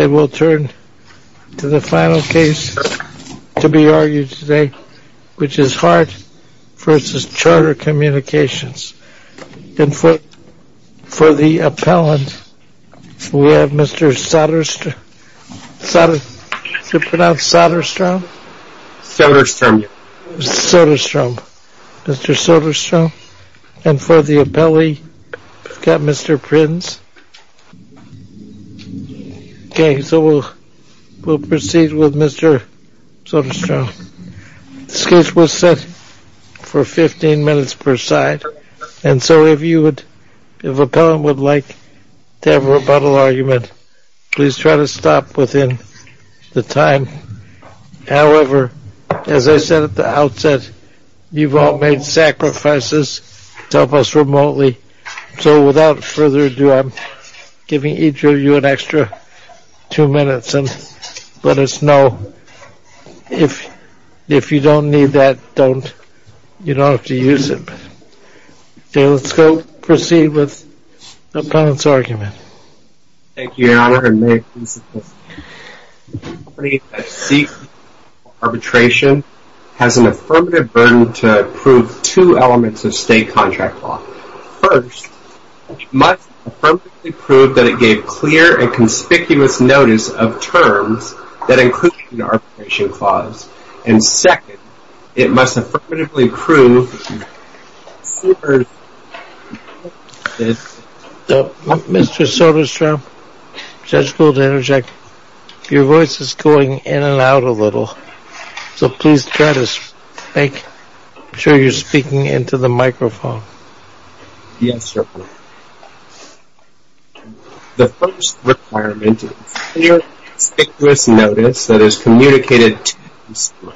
And we'll turn to the final case to be argued today, which is Hart v. Charter Communications. And for the appellant, we have Mr. Soderstrom. Is it pronounced Soderstrom? Soderstrom. Soderstrom. Mr. Soderstrom. And for the appellee, we've got Mr. Prins. Okay, so we'll proceed with Mr. Soderstrom. This case was set for 15 minutes per side. And so if you would, if the appellant would like to have a rebuttal argument, please try to stop within the time. However, as I said at the outset, you've all made sacrifices to help us remotely. So without further ado, I'm giving each of you an extra two minutes and let us know if you don't need that, you don't have to use it. Okay, let's go proceed with the appellant's argument. Thank you, Your Honor, and may it please the court. The company that seeks arbitration has an affirmative burden to approve two elements of state contract law. First, it must affirmatively prove that it gave clear and conspicuous notice of terms that include the arbitration clause. And second, it must affirmatively prove that it considers this. Mr. Soderstrom, Judge Gould interject, your voice is going in and out a little, so please try to make sure you're speaking into the microphone. Yes, Your Honor. The first requirement is clear and conspicuous notice that is communicated to the consumer,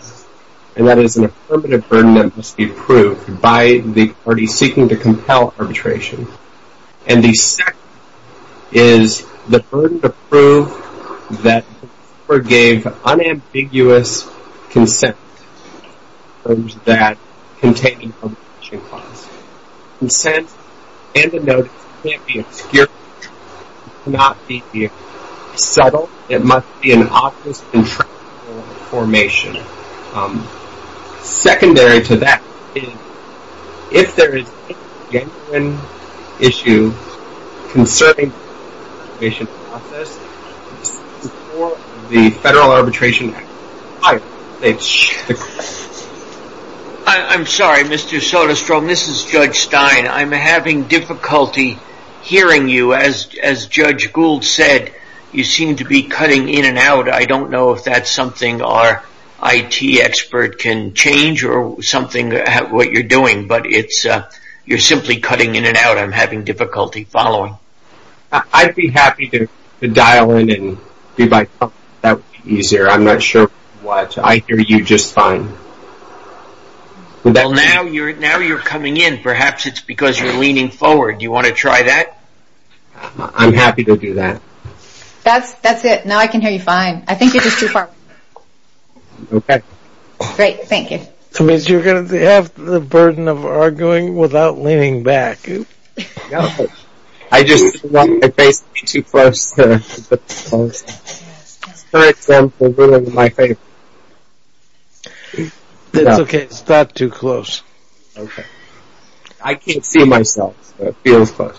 and that is an affirmative burden that must be approved by the party seeking to compel arbitration. And the second is the burden to prove that the consumer gave unambiguous consent to terms that contain the arbitration clause. Consent and a notice can't be obscured. It cannot be settled. It must be an obvious and transparent information. Secondary to that is if there is any genuine issue concerning the arbitration process, it must be before the Federal Arbitration Act. I'm sorry, Mr. Soderstrom. This is Judge Stein. I'm having difficulty hearing you. As Judge Gould said, you seem to be cutting in and out. I don't know if that's something our IT expert can change or something, what you're doing, but you're simply cutting in and out. I'm having difficulty following. I'd be happy to dial in and be myself. That would be easier. I'm not sure what. I hear you just fine. Well, now you're coming in. Perhaps it's because you're leaning forward. Do you want to try that? I'm happy to do that. That's it. Now I can hear you fine. I think you're just too far. Okay. Great. Thank you. That means you're going to have the burden of arguing without leaning back. I just don't want my face to be too close. For example, ruining my face. That's okay. It's not too close. Okay. I can't see myself. It feels close.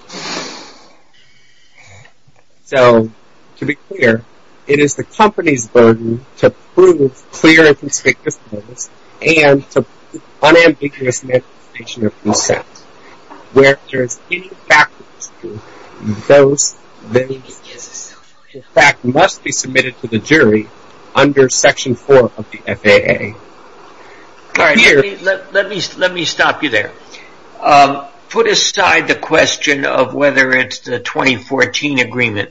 So, to be clear, it is the company's burden to prove clear and conspicuous evidence and to prove unambiguous manifestation of consent. Where there is any factual dispute, those that in fact must be submitted to the jury under Section 4 of the FAA. All right. Let me stop you there. Put aside the question of whether it's the 2014 agreement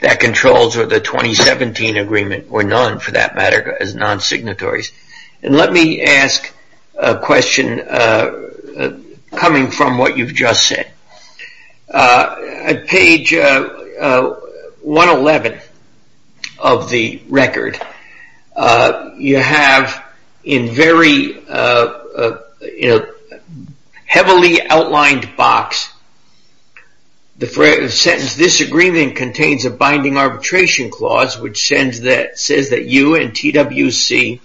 that controls or the 2017 agreement or none, for that matter, as non-signatories. And let me ask a question coming from what you've just said. At page 111 of the record, you have in very heavily outlined box, the sentence, this agreement contains a binding arbitration clause which says that you and TWC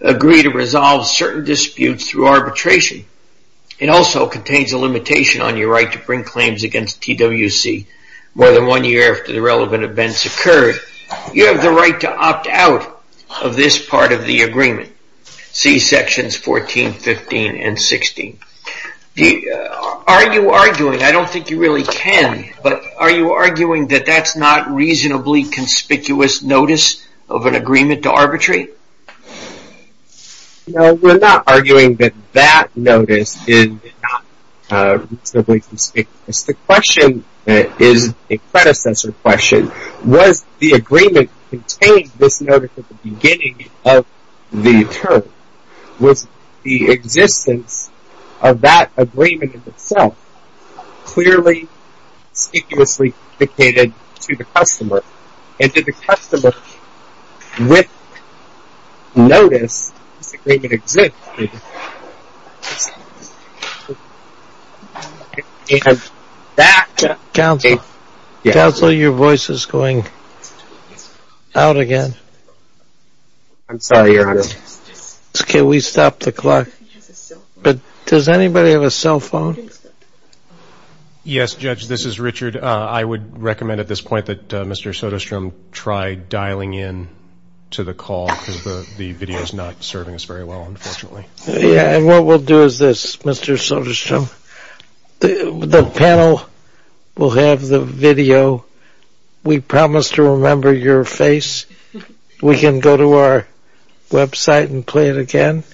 agree to resolve certain disputes through arbitration. It also contains a limitation on your right to bring claims against TWC more than one year after the relevant events occurred. You have the right to opt out of this part of the agreement. See sections 14, 15, and 16. Are you arguing, I don't think you really can, but are you arguing that that's not reasonably conspicuous notice of an agreement to arbitrate? No, we're not arguing that that notice is not reasonably conspicuous. The question is a predecessor question. Was the agreement containing this notice at the beginning of the term? Was the existence of that agreement in itself clearly, conspicuously dictated to the customer? And did the customer, with notice, disagree with existence? Counsel, your voice is going out again. I'm sorry, Your Honor. Can we stop the clock? Does anybody have a cell phone? Yes, Judge, this is Richard. I would recommend at this point that Mr. Soderstrom try dialing in to the call because the video is not serving us very well, unfortunately. Yeah, and what we'll do is this, Mr. Soderstrom. The panel will have the video. We promise to remember your face. We can go to our website and play it again,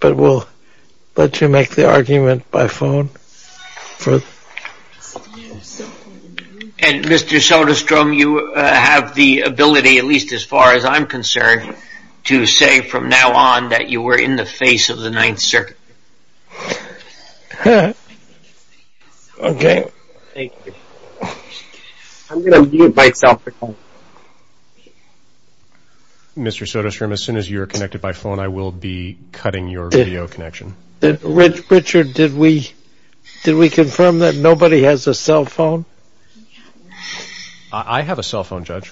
but we'll let you make the argument by phone. And, Mr. Soderstrom, you have the ability, at least as far as I'm concerned, to say from now on that you were in the face of the Ninth Circuit. Okay. Thank you. I'm going to mute myself at home. Mr. Soderstrom, as soon as you're connected by phone, I will be cutting your video connection. Richard, did we confirm that nobody has a cell phone? I have a cell phone, Judge.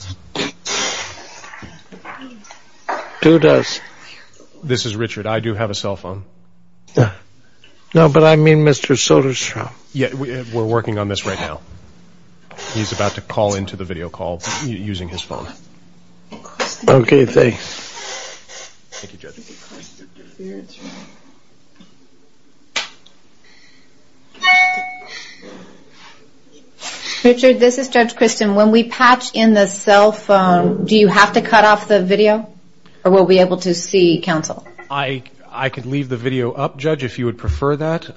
Who does? This is Richard. I do have a cell phone. No, but I mean Mr. Soderstrom. We're working on this right now. He's about to call into the video call using his phone. Okay, thanks. Thank you, Judge. Richard, this is Judge Christin. When we patch in the cell phone, do you have to cut off the video or we'll be able to see counsel? I could leave the video up, Judge, if you would prefer that.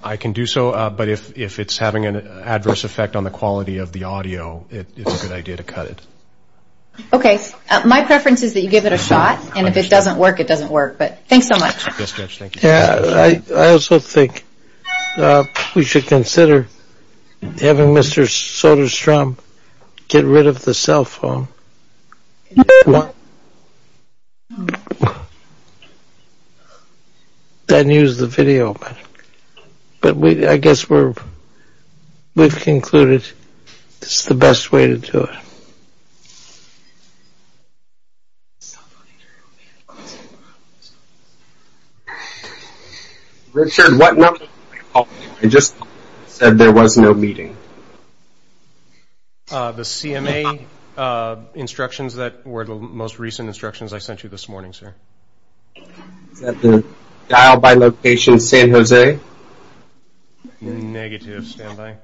I can do so, but if it's having an adverse effect on the quality of the audio, it's a good idea to cut it. Okay. My preference is that you give it a shot, and if it doesn't work, it doesn't work. But thanks so much. Yes, Judge, thank you. I also think we should consider having Mr. Soderstrom get rid of the cell phone. Then use the video. But I guess we've concluded it's the best way to do it. Richard, what number did I call you? I just said there was no meeting. The CMA instructions that were the most recent instructions I sent you this morning, sir. Is that the dial-by-location San Jose? Negative. Stand by.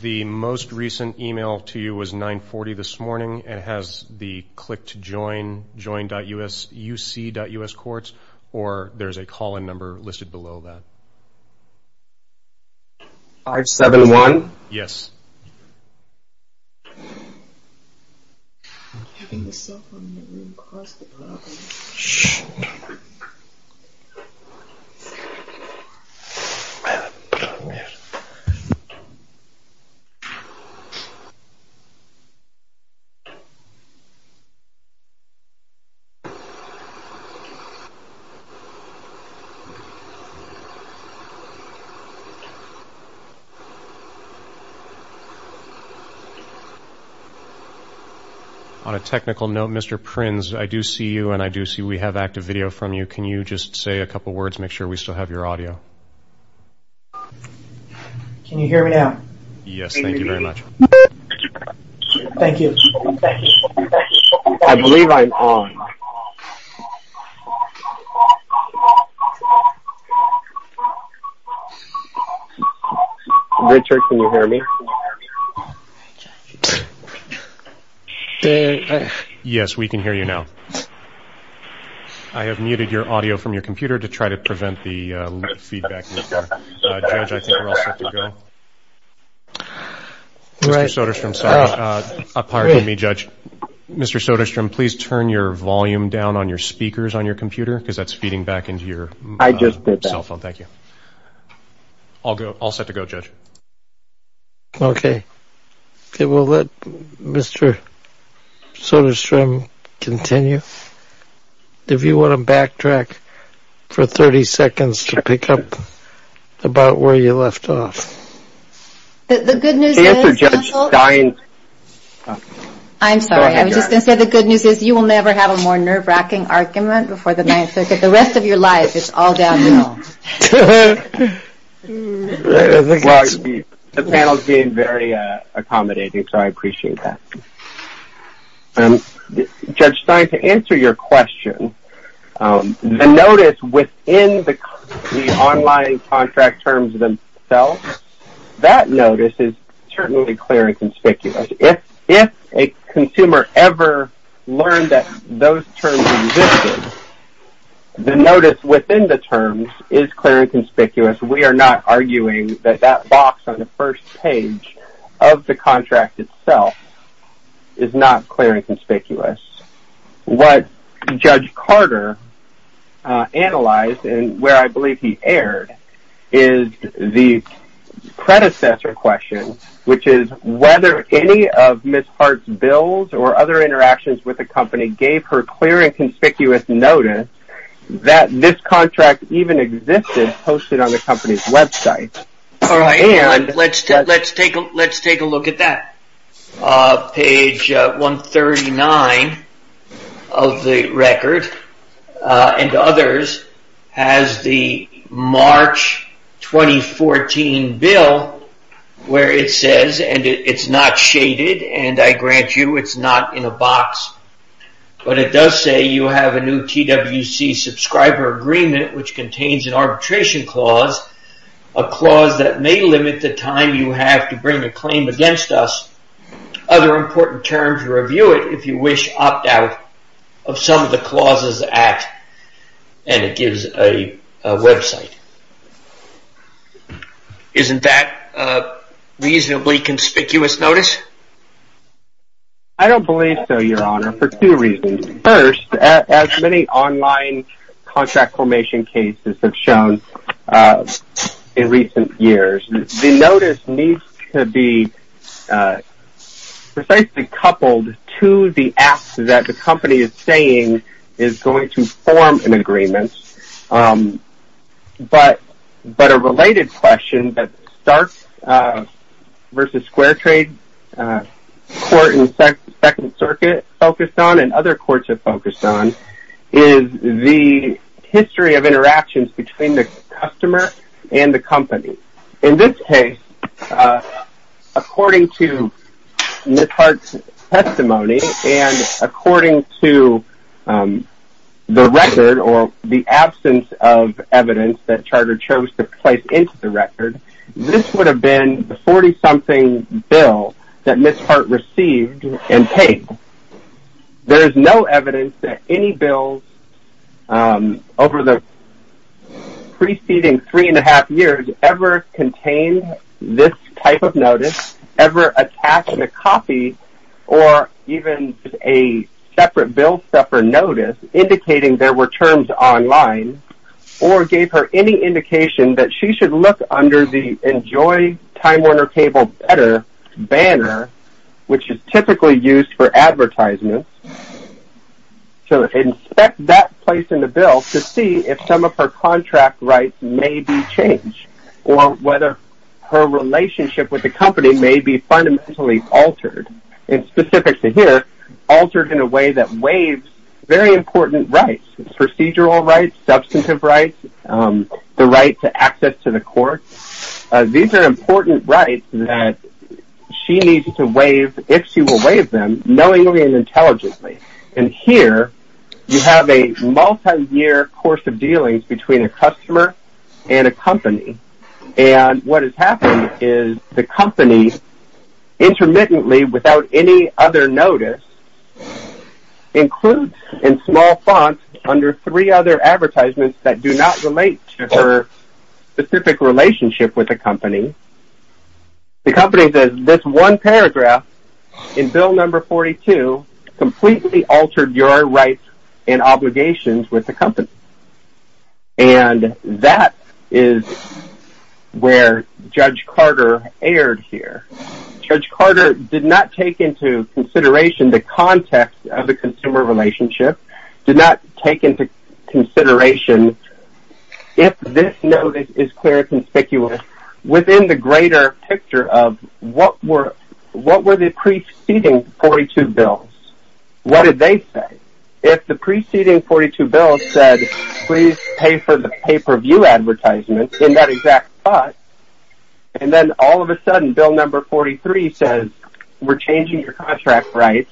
The most recent email to you was 940 this morning. It has the click to join, join.uc.uscourts, or there's a call-in number listed below that. 571? Yes. I'm keeping the cell phone in the room, cause the problem. Shh. I have a problem here. On a technical note, Mr. Prins, I do see you, and I do see we have active video from you. Can you just say a couple words, make sure we still have your audio? Can you hear me now? Yes, thank you very much. Thank you. I believe I'm on. Richard, can you hear me? Yes, we can hear you now. I have muted your audio from your computer to try to prevent the feedback. Judge, I think we're all set to go. Mr. Soderstrom, sorry. Pardon me, Judge. Mr. Soderstrom, please turn your volume down on your speakers on your computer, cause that's feeding back into your cell phone. I just did that. Thank you. All set to go, Judge. Okay. Okay, we'll let Mr. Soderstrom continue. If you want to backtrack for 30 seconds to pick up about where you left off. The good news is... The answer, Judge Stein... I'm sorry. I was just going to say the good news is you will never have a more nerve-wracking argument before the ninth circuit. The rest of your life, it's all downhill. The panel's being very accommodating, so I appreciate that. Judge Stein, to answer your question, the notice within the online contract terms themselves, that notice is certainly clear and conspicuous. If a consumer ever learned that those terms existed, the notice within the terms is clear and conspicuous. We are not arguing that that box on the first page of the contract itself is not clear and conspicuous. What Judge Carter analyzed, and where I believe he erred, is the predecessor question, which is whether any of Ms. Hart's bills or other interactions with the company gave her clear and conspicuous notice that this contract even existed posted on the company's website. Let's take a look at that. Page 139 of the record and others has the March 2014 bill where it says, and it's not shaded, and I grant you it's not in a box, but it does say you have a new TWC subscriber agreement which contains an arbitration clause, a clause that may limit the time you have to bring a claim against us. Other important terms, review it if you wish, opt out of some of the clauses at, and it gives a website. Isn't that a reasonably conspicuous notice? I don't believe so, Your Honor, for two reasons. First, as many online contract formation cases have shown in recent years, the notice needs to be precisely coupled to the act that the company is saying is going to form an agreement, but a related question that Starks v. Square Trade, a court in the Second Circuit focused on and other courts have focused on, is the history of interactions between the customer and the company. In this case, according to Ms. Hart's testimony and according to the record or the absence of evidence that Charter chose to place into the record, this would have been the 40-something bill that Ms. Hart received and paid. There is no evidence that any bills over the preceding three-and-a-half years ever contained this type of notice, ever attached a copy or even a separate bill stuffer notice indicating there were terms online, or gave her any indication that she should look under the Enjoy Time Warner Cable Better banner, which is typically used for advertisements, to inspect that place in the bill to see if some of her contract rights may be changed or whether her relationship with the company may be fundamentally altered. It's specific to here, altered in a way that waives very important rights, procedural rights, substantive rights, the right to access to the court. These are important rights that she needs to waive, if she will waive them, knowingly and intelligently. And here you have a multi-year course of dealings between a customer and a company. And what has happened is the company intermittently without any other notice includes in small font under three other advertisements that do not relate to her specific relationship with the company. The company says this one paragraph in bill number 42 completely altered your rights and obligations with the company. And that is where Judge Carter erred here. Judge Carter did not take into consideration the context of the consumer relationship, did not take into consideration if this notice is clear and conspicuous and within the greater picture of what were the preceding 42 bills. What did they say? If the preceding 42 bills said please pay for the pay-per-view advertisements in that exact spot, and then all of a sudden bill number 43 says we're changing your contract rights,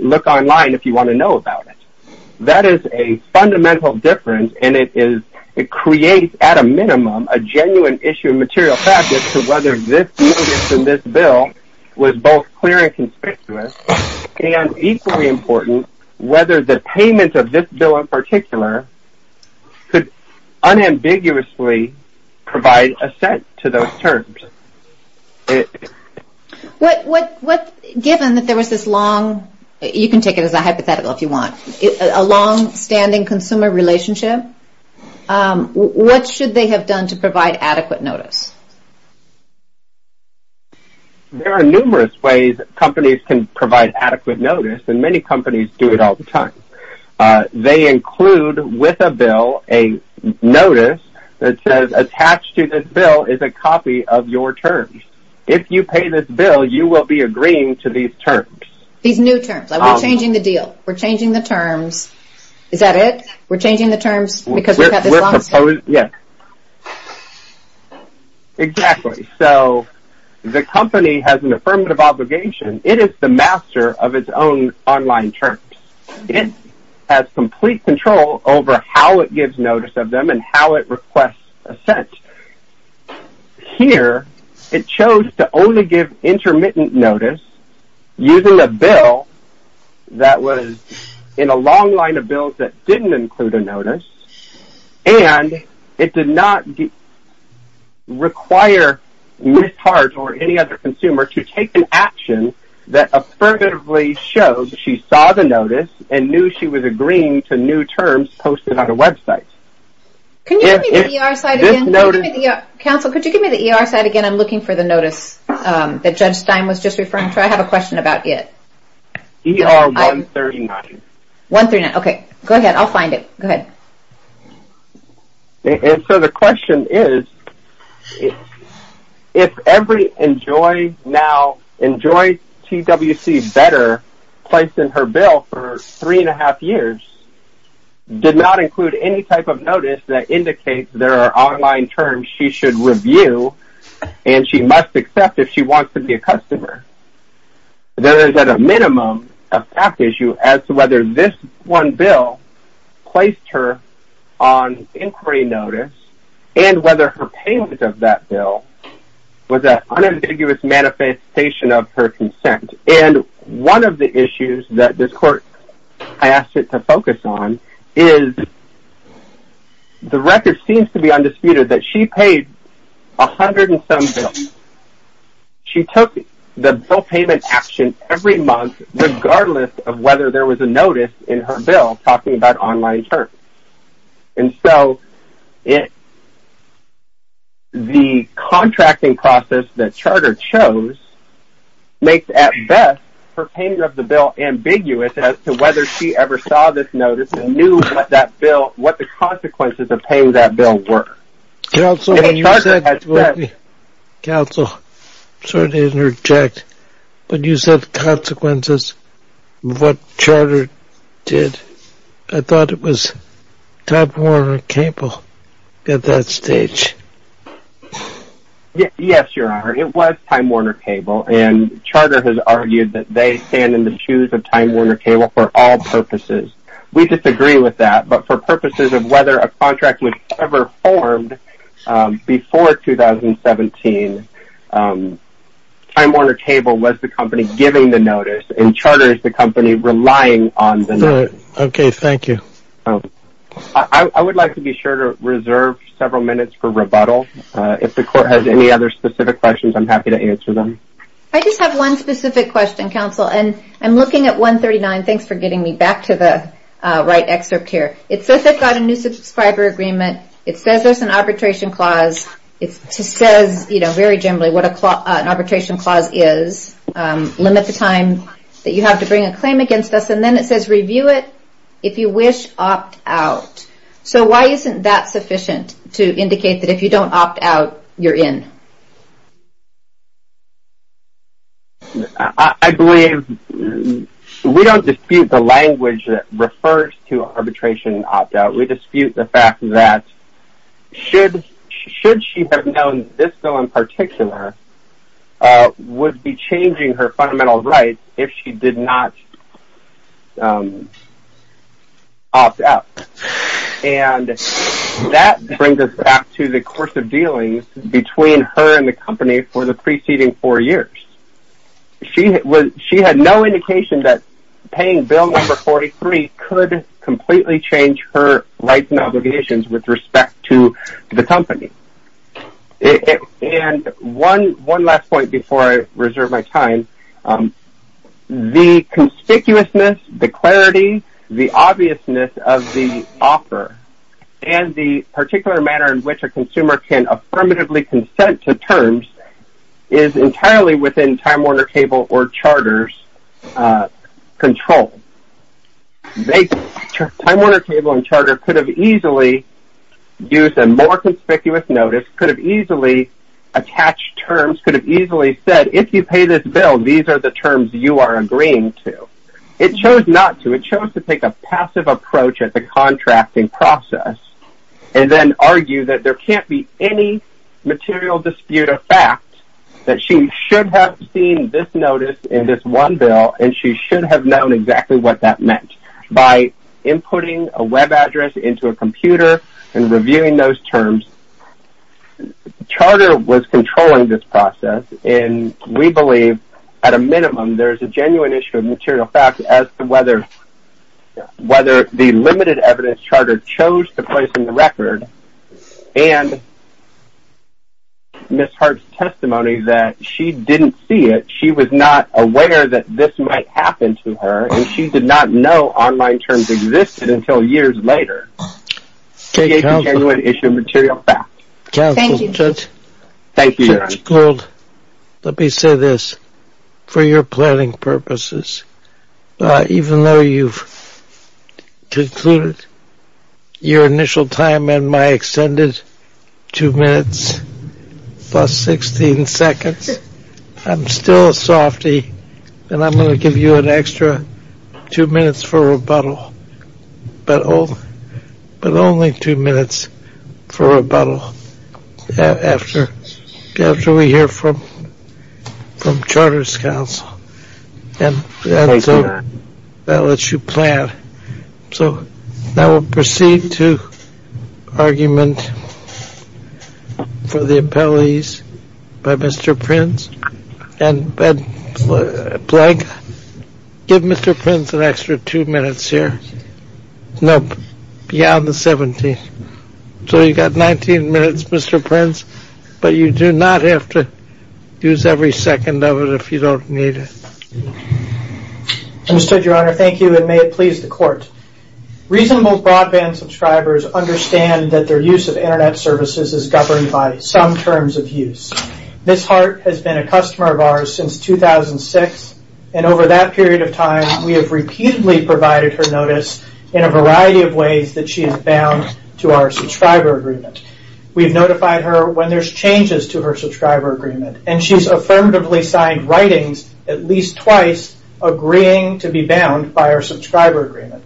look online if you want to know about it. That is a fundamental difference and it creates at a minimum a genuine issue of material fact as to whether this notice in this bill was both clear and conspicuous and equally important whether the payment of this bill in particular could unambiguously provide assent to those terms. Given that there was this long, you can take it as a hypothetical if you want, a long-standing consumer relationship, what should they have done to provide adequate notice? There are numerous ways companies can provide adequate notice and many companies do it all the time. They include with a bill a notice that says attached to this bill is a copy of your terms. If you pay this bill, you will be agreeing to these terms. These new terms? We're changing the deal. We're changing the terms. Is that it? We're changing the terms because we've got this long? Yes. Exactly. The company has an affirmative obligation. It is the master of its own online terms. It has complete control over how it gives notice of them and how it requests assent. Here, it chose to only give intermittent notice using a bill that was in a long line of bills that didn't include a notice and it did not require Ms. Hart or any other consumer to take an action that affirmatively showed she saw the notice and knew she was agreeing to new terms posted on the website. Can you give me the ER site again? Counsel, could you give me the ER site again? I'm looking for the notice that Judge Stein was just referring to. I have a question about it. ER 139. 139. Okay. Go ahead. I'll find it. Go ahead. So the question is, if every Enjoy Now, Enjoy TWC Better placed in her bill for three and a half years did not include any type of notice that indicates there are online terms she should review and she must accept if she wants to be a customer, there is at a minimum a fact issue as to whether this one bill placed her on inquiry notice and whether her payment of that bill was an unambiguous manifestation of her consent. And one of the issues that this court asked it to focus on is the record seems to be undisputed that she paid a hundred and some bills. She took the bill payment action every month regardless of whether there was a notice in her bill talking about online terms. And so the contracting process that Charter chose makes, at best, her payment of the bill ambiguous as to whether she ever saw this notice and knew what the consequences of paying that bill were. Counsel, I'm sorry to interject, but you said consequences of what Charter did. I thought it was Time Warner Cable at that stage. Yes, Your Honor. It was Time Warner Cable. And Charter has argued that they stand in the shoes of Time Warner Cable for all purposes. We disagree with that. But for purposes of whether a contract was ever formed before 2017, Time Warner Cable was the company giving the notice and Charter is the company relying on the notice. Okay, thank you. I would like to be sure to reserve several minutes for rebuttal. If the court has any other specific questions, I'm happy to answer them. I just have one specific question, Counsel, and I'm looking at 139. And thanks for getting me back to the right excerpt here. It says they've got a new subscriber agreement. It says there's an arbitration clause. It says very generally what an arbitration clause is. Limit the time that you have to bring a claim against us. And then it says review it. If you wish, opt out. So why isn't that sufficient to indicate that if you don't opt out, you're in? I believe we don't dispute the language that refers to arbitration and opt out. We dispute the fact that should she have known this bill in particular, would be changing her fundamental rights if she did not opt out. And that brings us back to the course of dealings between her and the company for the preceding four years. She had no indication that paying Bill Number 43 could completely change her rights and obligations with respect to the company. And one last point before I reserve my time. The conspicuousness, the clarity, the obviousness of the offer, and the particular manner in which a consumer can affirmatively consent to terms is entirely within Time Warner Cable or Charter's control. Time Warner Cable and Charter could have easily used a more conspicuous notice, could have easily attached terms, could have easily said, if you pay this bill, these are the terms you are agreeing to. It chose not to. It chose to take a passive approach at the contracting process and then argue that there can't be any material dispute of fact that she should have seen this notice in this one bill and she should have known exactly what that meant. By inputting a web address into a computer and reviewing those terms, Charter was controlling this process and we believe at a minimum there is a genuine issue of material fact as to whether the limited evidence Charter chose to place in the record and Ms. Hart's testimony that she didn't see it, she was not aware that this might happen to her and she did not know online terms existed until years later. We gave the genuine issue of material fact. Thank you. Judge Gould, let me say this. For your planning purposes, even though you've concluded your initial time and my extended 2 minutes plus 16 seconds, I'm still a softy and I'm going to give you an extra 2 minutes for rebuttal. But only 2 minutes for rebuttal after we hear from Charter's counsel. Thank you, Your Honor. That lets you plan. So now we'll proceed to argument for the appellees by Mr. Prince. And Blake, give Mr. Prince an extra 2 minutes here. No, beyond the 17th. So you've got 19 minutes, Mr. Prince, but you do not have to use every second of it if you don't need it. Understood, Your Honor. Thank you and may it please the court. Reasonable broadband subscribers understand that their use of internet services is governed by some terms of use. Ms. Hart has been a customer of ours since 2006, and over that period of time we have repeatedly provided her notice in a variety of ways that she is bound to our subscriber agreement. We've notified her when there's changes to her subscriber agreement, and she's affirmatively signed writings at least twice agreeing to be bound by our subscriber agreement.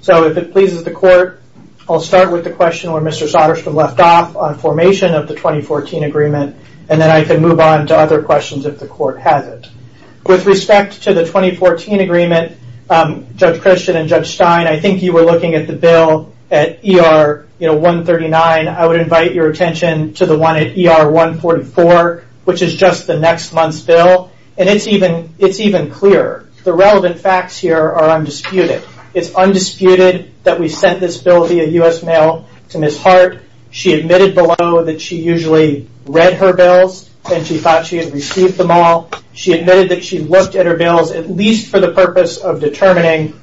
So if it pleases the court, I'll start with the question where Mr. Sotterstrom left off on formation of the 2014 agreement, and then I can move on to other questions if the court has it. With respect to the 2014 agreement, Judge Christian and Judge Stein, I think you were looking at the bill at ER 139. I would invite your attention to the one at ER 144, which is just the next month's bill, and it's even clearer. The relevant facts here are undisputed. It's undisputed that we sent this bill via U.S. Mail to Ms. Hart. She admitted below that she usually read her bills and she thought she had received them all. She admitted that she looked at her bills at least for the purpose of determining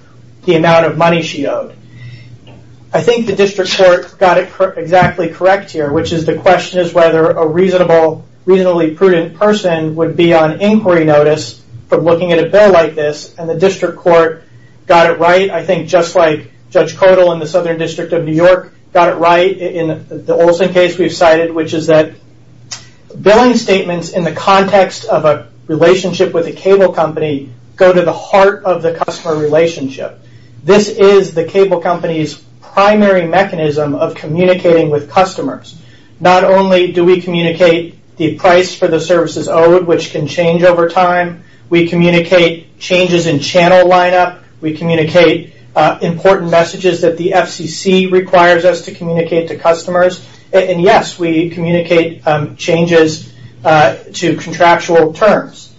the amount of money she owed. I think the district court got it exactly correct here, which is the question is whether a reasonably prudent person would be on inquiry notice for looking at a bill like this, and the district court got it right. I think just like Judge Kotel in the Southern District of New York got it right in the Olson case we've cited, which is that billing statements in the context of a relationship with a cable company go to the heart of the customer relationship. This is the cable company's primary mechanism of communicating with customers. Not only do we communicate the price for the services owed, which can change over time, we communicate changes in channel lineup, we communicate important messages that the FCC requires us to communicate to customers, and yes, we communicate changes to contractual terms.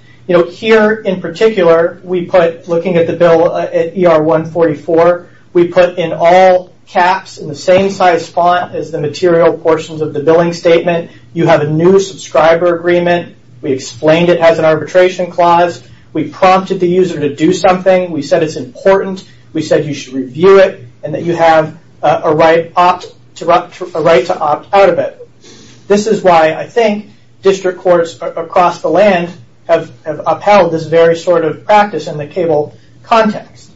Here in particular, we put, looking at the bill at ER 144, we put in all caps in the same size font as the material portions of the billing statement, you have a new subscriber agreement. We explained it has an arbitration clause. We prompted the user to do something. We said it's important. We said you should review it, and that you have a right to opt out of it. This is why I think district courts across the land have upheld this very sort of practice in the cable context.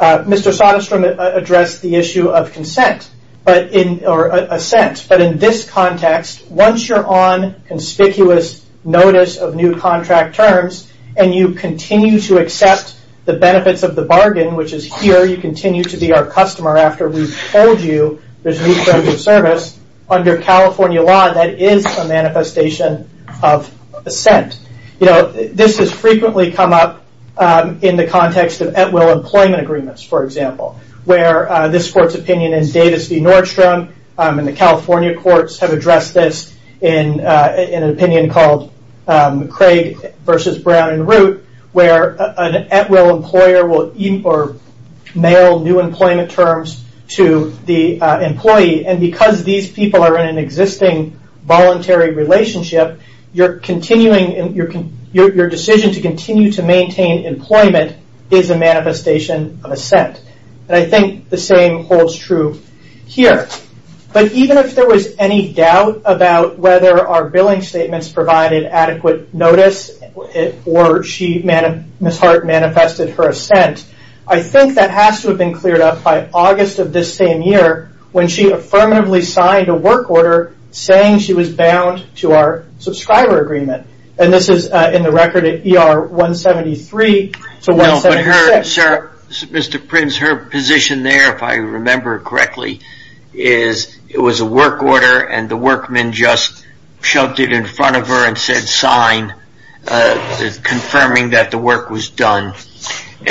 Mr. Soderstrom addressed the issue of consent, or assent, but in this context, once you're on conspicuous notice of new contract terms, and you continue to accept the benefits of the bargain, which is here, you continue to be our customer after we've told you there's a new service, under California law, that is a manifestation of assent. This has frequently come up in the context of at-will employment agreements, for example, where this court's opinion in Davis v. Nordstrom and the California courts have addressed this in an opinion called Craig v. Brown and Root, where an at-will employer will mail new employment terms to the employee, and because these people are in an existing voluntary relationship, your decision to continue to maintain employment is a manifestation of assent. I think the same holds true here. Even if there was any doubt about whether our billing statements provided adequate notice or Ms. Hart manifested her assent, I think that has to have been cleared up by August of this same year when she affirmatively signed a work order saying she was bound to our subscriber agreement. This is in the record at ER 173 to 176. Mr. Prince, her position there, if I remember correctly, is it was a work order and the workman just shoved it in front of her and said, sign, confirming that the work was done.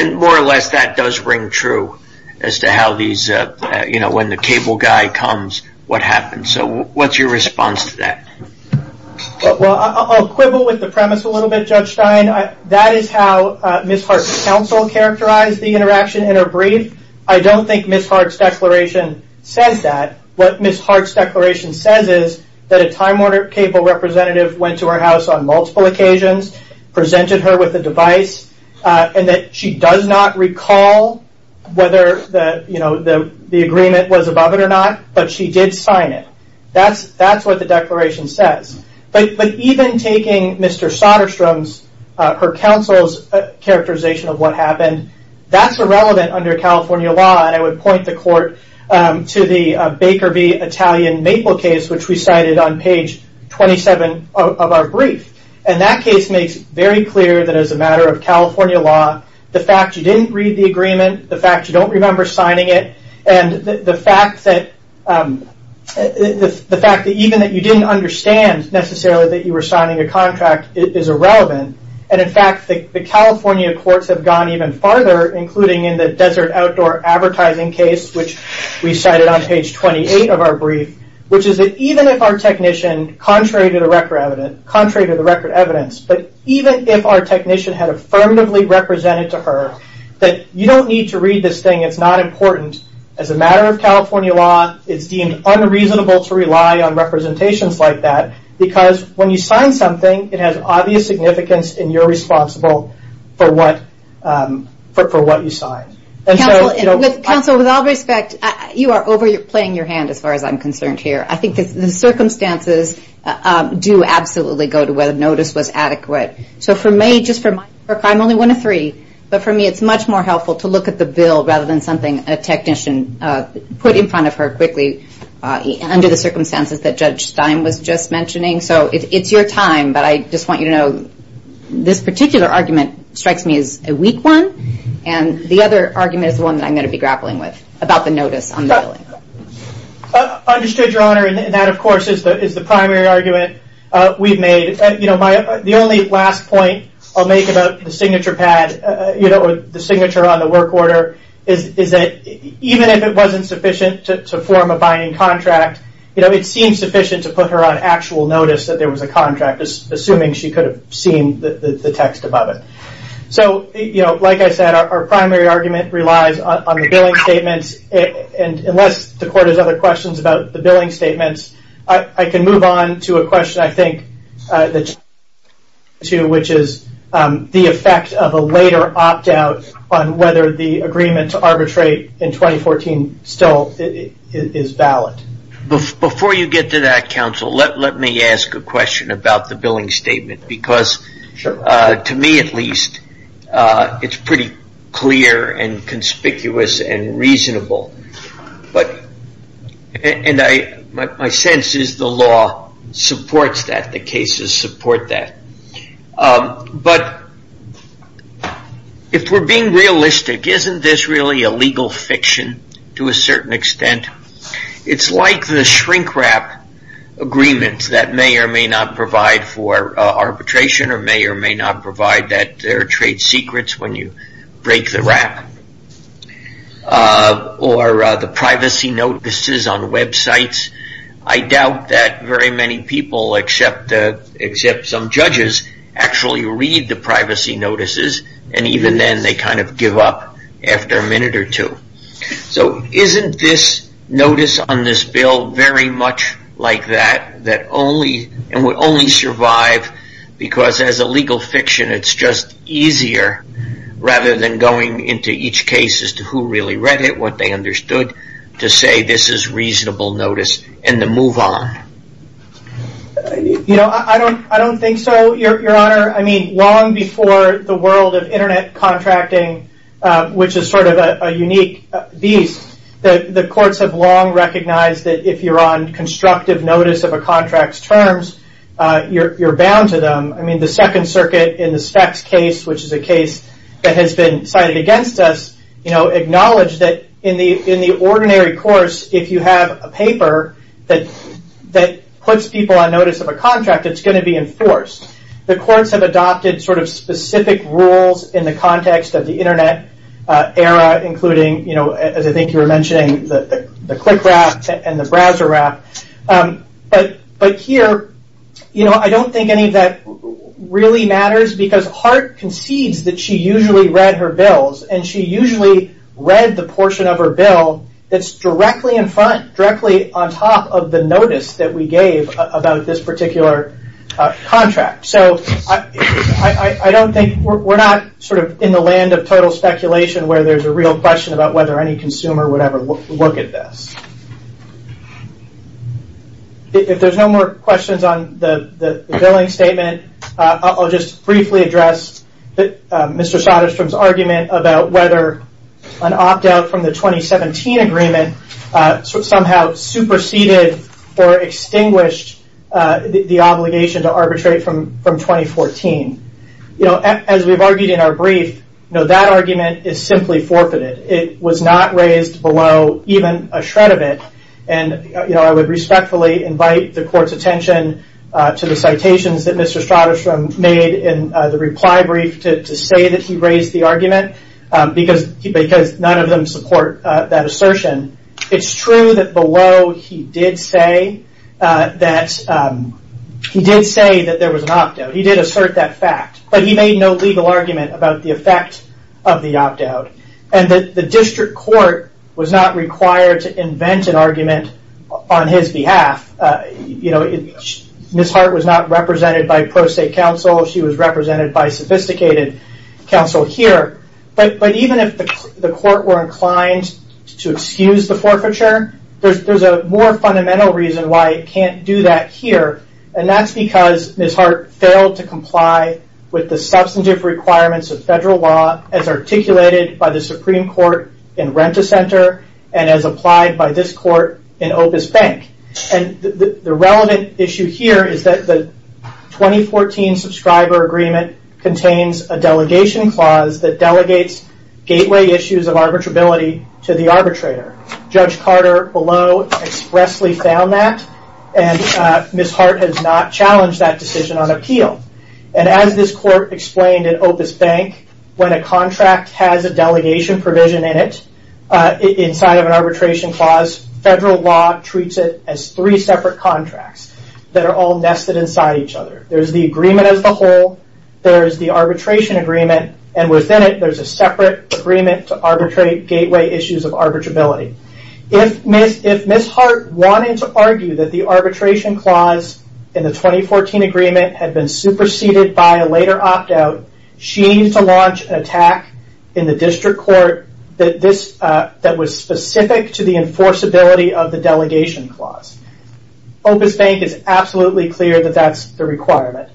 More or less, that does ring true as to when the cable guy comes, what happens. What's your response to that? I'll quibble with the premise a little bit, Judge Stein. That is how Ms. Hart's counsel characterized the interaction in her brief. I don't think Ms. Hart's declaration says that. What Ms. Hart's declaration says is that a Time Warner Cable representative went to her house on multiple occasions, presented her with a device, and that she does not recall whether the agreement was above it or not, but she did sign it. That's what the declaration says. Even taking Mr. Soderstrom's, her counsel's characterization of what happened, that's irrelevant under California law. I would point the court to the Baker v. Italian Maple case, which we cited on page 27 of our brief. That case makes very clear that as a matter of California law, the fact you didn't read the agreement, the fact you don't remember signing it, and the fact that even that you didn't understand necessarily that you were signing a contract is irrelevant. In fact, the California courts have gone even farther, including in the desert outdoor advertising case, which we cited on page 28 of our brief, which is that even if our technician, contrary to the record evidence, but even if our technician had affirmatively represented to her that you don't need to read this thing, it's not important. As a matter of California law, it's deemed unreasonable to rely on representations like that because when you sign something, it has obvious significance and you're responsible for what you signed. Counsel, with all respect, you are overplaying your hand as far as I'm concerned here. I think the circumstances do absolutely go to where the notice was adequate. For me, just for my work, I'm only one of three, but for me it's much more helpful to look at the bill rather than something a technician put in front of her quickly under the circumstances that Judge Stein was just mentioning. So it's your time, but I just want you to know this particular argument strikes me as a weak one, and the other argument is the one that I'm going to be grappling with about the notice on the billing. Understood, Your Honor, and that, of course, is the primary argument we've made. The only last point I'll make about the signature pad or the signature on the work order is that even if it wasn't sufficient to form a binding contract, it seems sufficient to put her on actual notice that there was a contract, assuming she could have seen the text above it. So, like I said, our primary argument relies on the billing statements, and unless the Court has other questions about the billing statements, I can move on to a question I think that Judge Stein can respond to, which is the effect of a later opt-out on whether the agreement to arbitrate in 2014 still is valid. Before you get to that, counsel, let me ask a question about the billing statement because, to me at least, it's pretty clear and conspicuous and reasonable. And my sense is the law supports that. The cases support that. But if we're being realistic, isn't this really a legal fiction to a certain extent? It's like the shrink-wrap agreement that may or may not provide for arbitration or may or may not provide that there are trade secrets when you break the wrap. Or the privacy notices on websites. I doubt that very many people, except some judges, actually read the privacy notices, and even then they kind of give up after a minute or two. So isn't this notice on this bill very much like that, and would only survive because, as a legal fiction, it's just easier, rather than going into each case as to who really read it, what they understood, to say this is reasonable notice and to move on? I don't think so, Your Honor. Long before the world of Internet contracting, which is sort of a unique beast, the courts have long recognized that if you're on constructive notice of a contract's terms, you're bound to them. I mean, the Second Circuit in the Spex case, which is a case that has been cited against us, acknowledged that in the ordinary course, if you have a paper that puts people on notice of a contract, it's going to be enforced. The courts have adopted sort of specific rules in the context of the Internet era, including, as I think you were mentioning, the click wrap and the browser wrap. But here, I don't think any of that really matters, because Hart concedes that she usually read her bills, and she usually read the portion of her bill that's directly in front, directly on top of the notice that we gave about this particular contract. So I don't think... We're not sort of in the land of total speculation where there's a real question about whether any consumer would ever look at this. If there's no more questions on the billing statement, I'll just briefly address Mr. Soderstrom's argument about whether an opt-out from the 2017 agreement somehow superseded or extinguished the obligation to arbitrate from 2014. As we've argued in our brief, that argument is simply forfeited. It was not raised below even a shred of it. And I would respectfully invite the court's attention to the citations that Mr. Soderstrom made in the reply brief to say that he raised the argument, because none of them support that assertion. It's true that below he did say that there was an opt-out. He did assert that fact. But he made no legal argument about the effect of the opt-out. And the district court was not required to invent an argument on his behalf. Ms. Hart was not represented by pro-state counsel. She was represented by sophisticated counsel here. But even if the court were inclined to excuse the forfeiture, there's a more fundamental reason why it can't do that here. And that's because Ms. Hart failed to comply with the substantive requirements of federal law as articulated by the Supreme Court in Rent-A-Center and as applied by this court in Opus Bank. And the relevant issue here is that the 2014 subscriber agreement contains a delegation clause that delegates gateway issues of arbitrability to the arbitrator. Judge Carter below expressly found that. And Ms. Hart has not challenged that decision on appeal. And as this court explained in Opus Bank, when a contract has a delegation provision in it, inside of an arbitration clause, federal law treats it as three separate contracts that are all nested inside each other. There's the agreement as a whole. There's the arbitration agreement. And within it, there's a separate agreement to arbitrate gateway issues of arbitrability. If Ms. Hart wanted to argue that the arbitration clause in the 2014 agreement had been superseded by a later opt-out, she needs to launch an attack in the district court that was specific to the enforceability of the delegation clause. Opus Bank is absolutely clear that that's the requirement.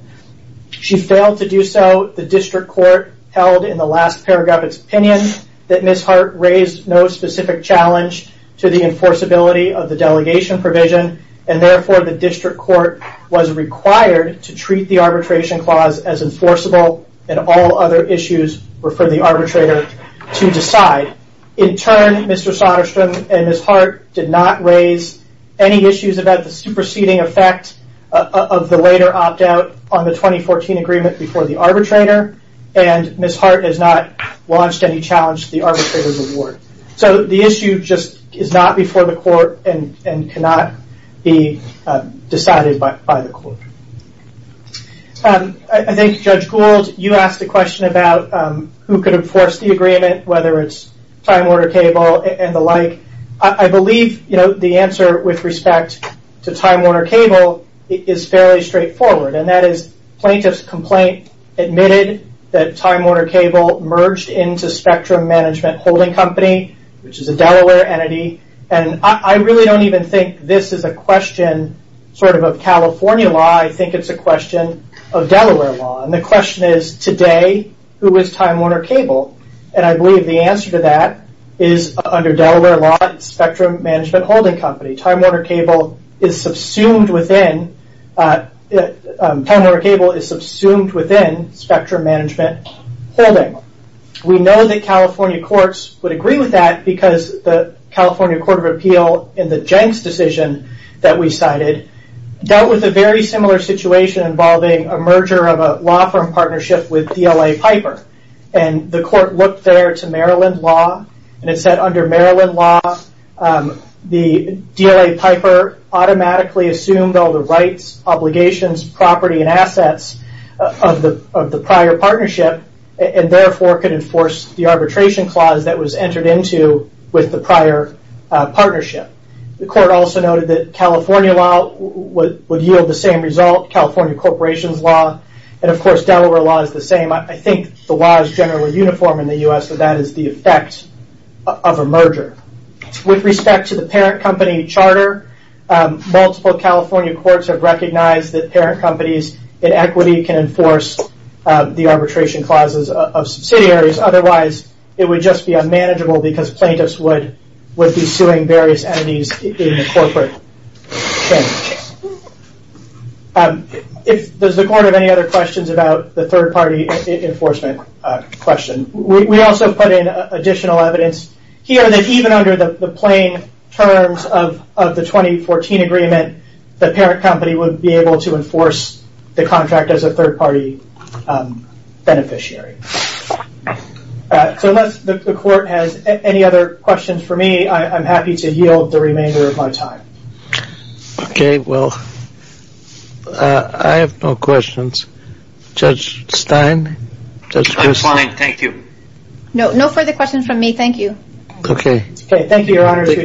She failed to do so. The district court held in the last paragraph its opinion that Ms. Hart raised no specific challenge to the enforceability of the delegation provision. And therefore, the district court was required to treat the arbitration clause as enforceable and all other issues were for the arbitrator to decide. In turn, Mr. Sonnerstrom and Ms. Hart did not raise any issues about the superseding effect of the later opt-out on the 2014 agreement before the arbitrator. And Ms. Hart has not launched any challenge to the arbitrator's reward. So the issue just is not before the court and cannot be decided by the court. I think Judge Gould, you asked a question about who could enforce the agreement, whether it's Time Warner Cable and the like. I believe the answer with respect to Time Warner Cable is fairly straightforward. And that is plaintiff's complaint admitted that Time Warner Cable merged into Spectrum Management Holding Company, which is a Delaware entity. And I really don't even think this is a question sort of of California law. I think it's a question of Delaware law. And the question is, today, who is Time Warner Cable? And I believe the answer to that is under Delaware law, Spectrum Management Holding Company. Time Warner Cable is subsumed within Time Warner Cable is subsumed within Spectrum Management Holding. We know that California courts would agree with that because the California Court of Appeal in the Jenks decision that we cited dealt with a very similar situation involving a merger of a law firm partnership with DLA Piper. And the court looked there to Maryland law and it said under Maryland law, the DLA Piper automatically assumed all the rights, obligations, property, and assets of the prior partnership and therefore could enforce the arbitration clause that was entered into with the prior partnership. The court also noted that California law would yield the same result, California corporations law, and of course Delaware law is the same. I think the law is generally uniform in the U.S. so that is the effect of a merger. With respect to the parent company charter, multiple California courts have recognized that parent companies in equity can enforce the arbitration clauses of subsidiaries. Otherwise, it would just be unmanageable because plaintiffs would be suing various entities in a corporate case. Does the court have any other questions about the third party enforcement question? We also put in additional evidence here that even under the plain terms of the 2014 agreement, the parent company would be able to enforce the contract as a third party beneficiary. So unless the court has any other questions for me, I'm happy to yield the remainder of my time. Okay, well, I have no questions. Judge Stein? I'm fine, thank you. No further questions from me, thank you. Okay. Okay, thank you, Your Honor. Thank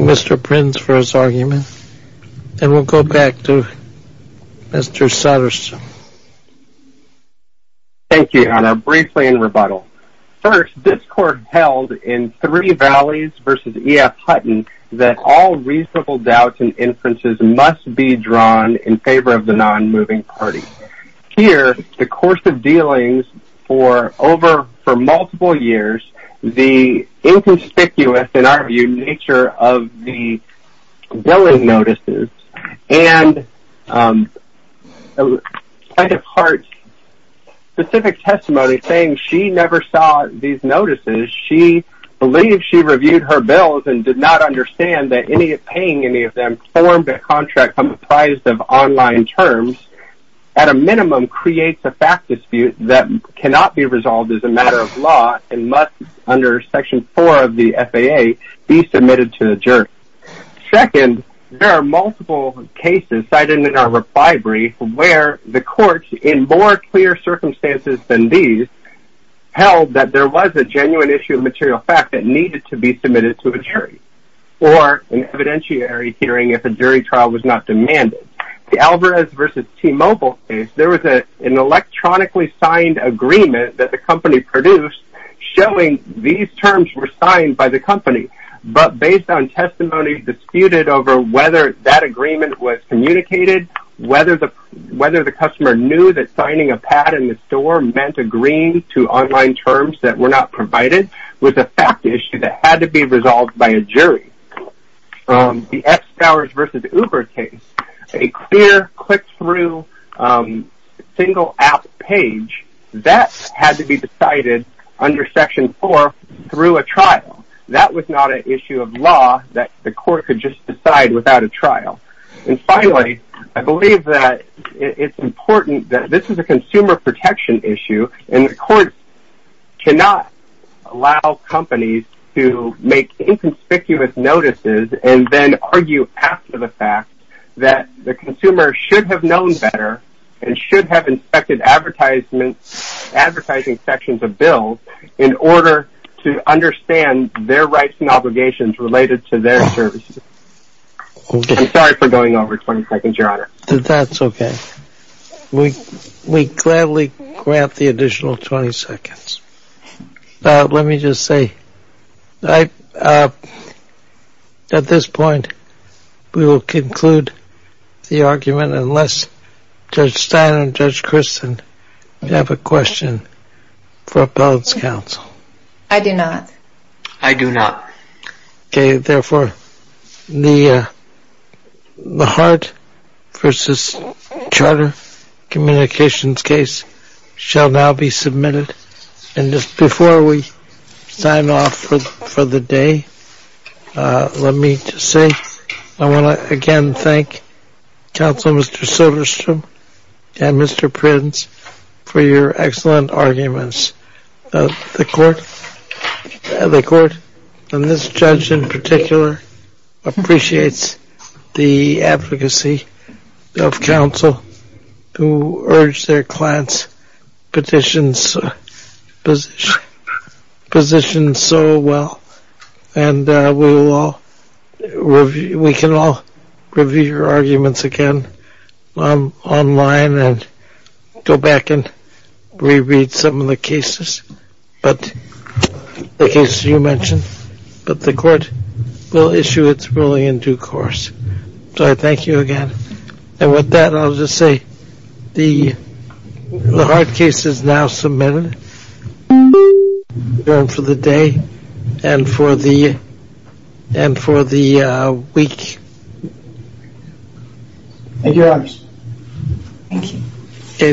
Mr. Prince for his argument. And we'll go back to Mr. Sutterson. Thank you, Your Honor. Briefly in rebuttal. First, this court held in Three Valleys v. E.F. Hutton that all reasonable doubts and inferences must be drawn in favor of the non-moving party. Here, the course of dealings for over multiple years, the inconspicuous, in our view, nature of the billing notices. And I have heard specific testimony saying she never saw these notices. She believes she reviewed her bills and did not understand that paying any of them formed a contract comprised of online terms. At a minimum, creates a fact dispute that cannot be resolved as a matter of law and must, under Section 4 of the FAA, be submitted to the jury. Second, there are multiple cases cited in our reply brief where the courts, in more clear circumstances than these, held that there was a genuine issue of material fact that needed to be submitted to a jury or an evidentiary hearing if a jury trial was not demanded. The Alvarez v. T-Mobile case, there was an electronically signed agreement that the company produced showing these terms were signed by the company. But based on testimony disputed over whether that agreement was communicated, whether the customer knew that signing a pad in the store meant agreeing to online terms that were not provided, was a fact issue that had to be resolved by a jury. The X-Hours v. Uber case, a clear, click-through, single-app page, that had to be decided under Section 4 through a trial. That was not an issue of law that the court could just decide without a trial. And finally, I believe that it's important that this is a consumer protection issue and the court cannot allow companies to make inconspicuous notices and then argue after the fact that the consumer should have known better and should have inspected advertising sections of bills in order to understand their rights and obligations related to their services. I'm sorry for going over 20 seconds, Your Honor. That's okay. We gladly grant the additional 20 seconds. Let me just say, at this point, we will conclude the argument unless Judge Stein and Judge Christen have a question for Appellate's counsel. I do not. I do not. Okay, therefore, the Hart v. Charter Communications case shall now be submitted. And just before we sign off for the day, let me just say, I want to again thank Counsel Mr. Silverstrom and Mr. Prins for your excellent arguments. The court, and this judge in particular, appreciates the advocacy of counsel who urged their clients' positions so well. And we can all review your arguments again online and go back and reread some of the cases, the cases you mentioned. But the court will issue its ruling in due course. So I thank you again. And with that, I'll just say, the Hart case is now submitted. We're adjourned for the day and for the week. Thank you, Your Honor. Thank you.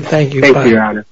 Thank you. Thank you, Your Honor.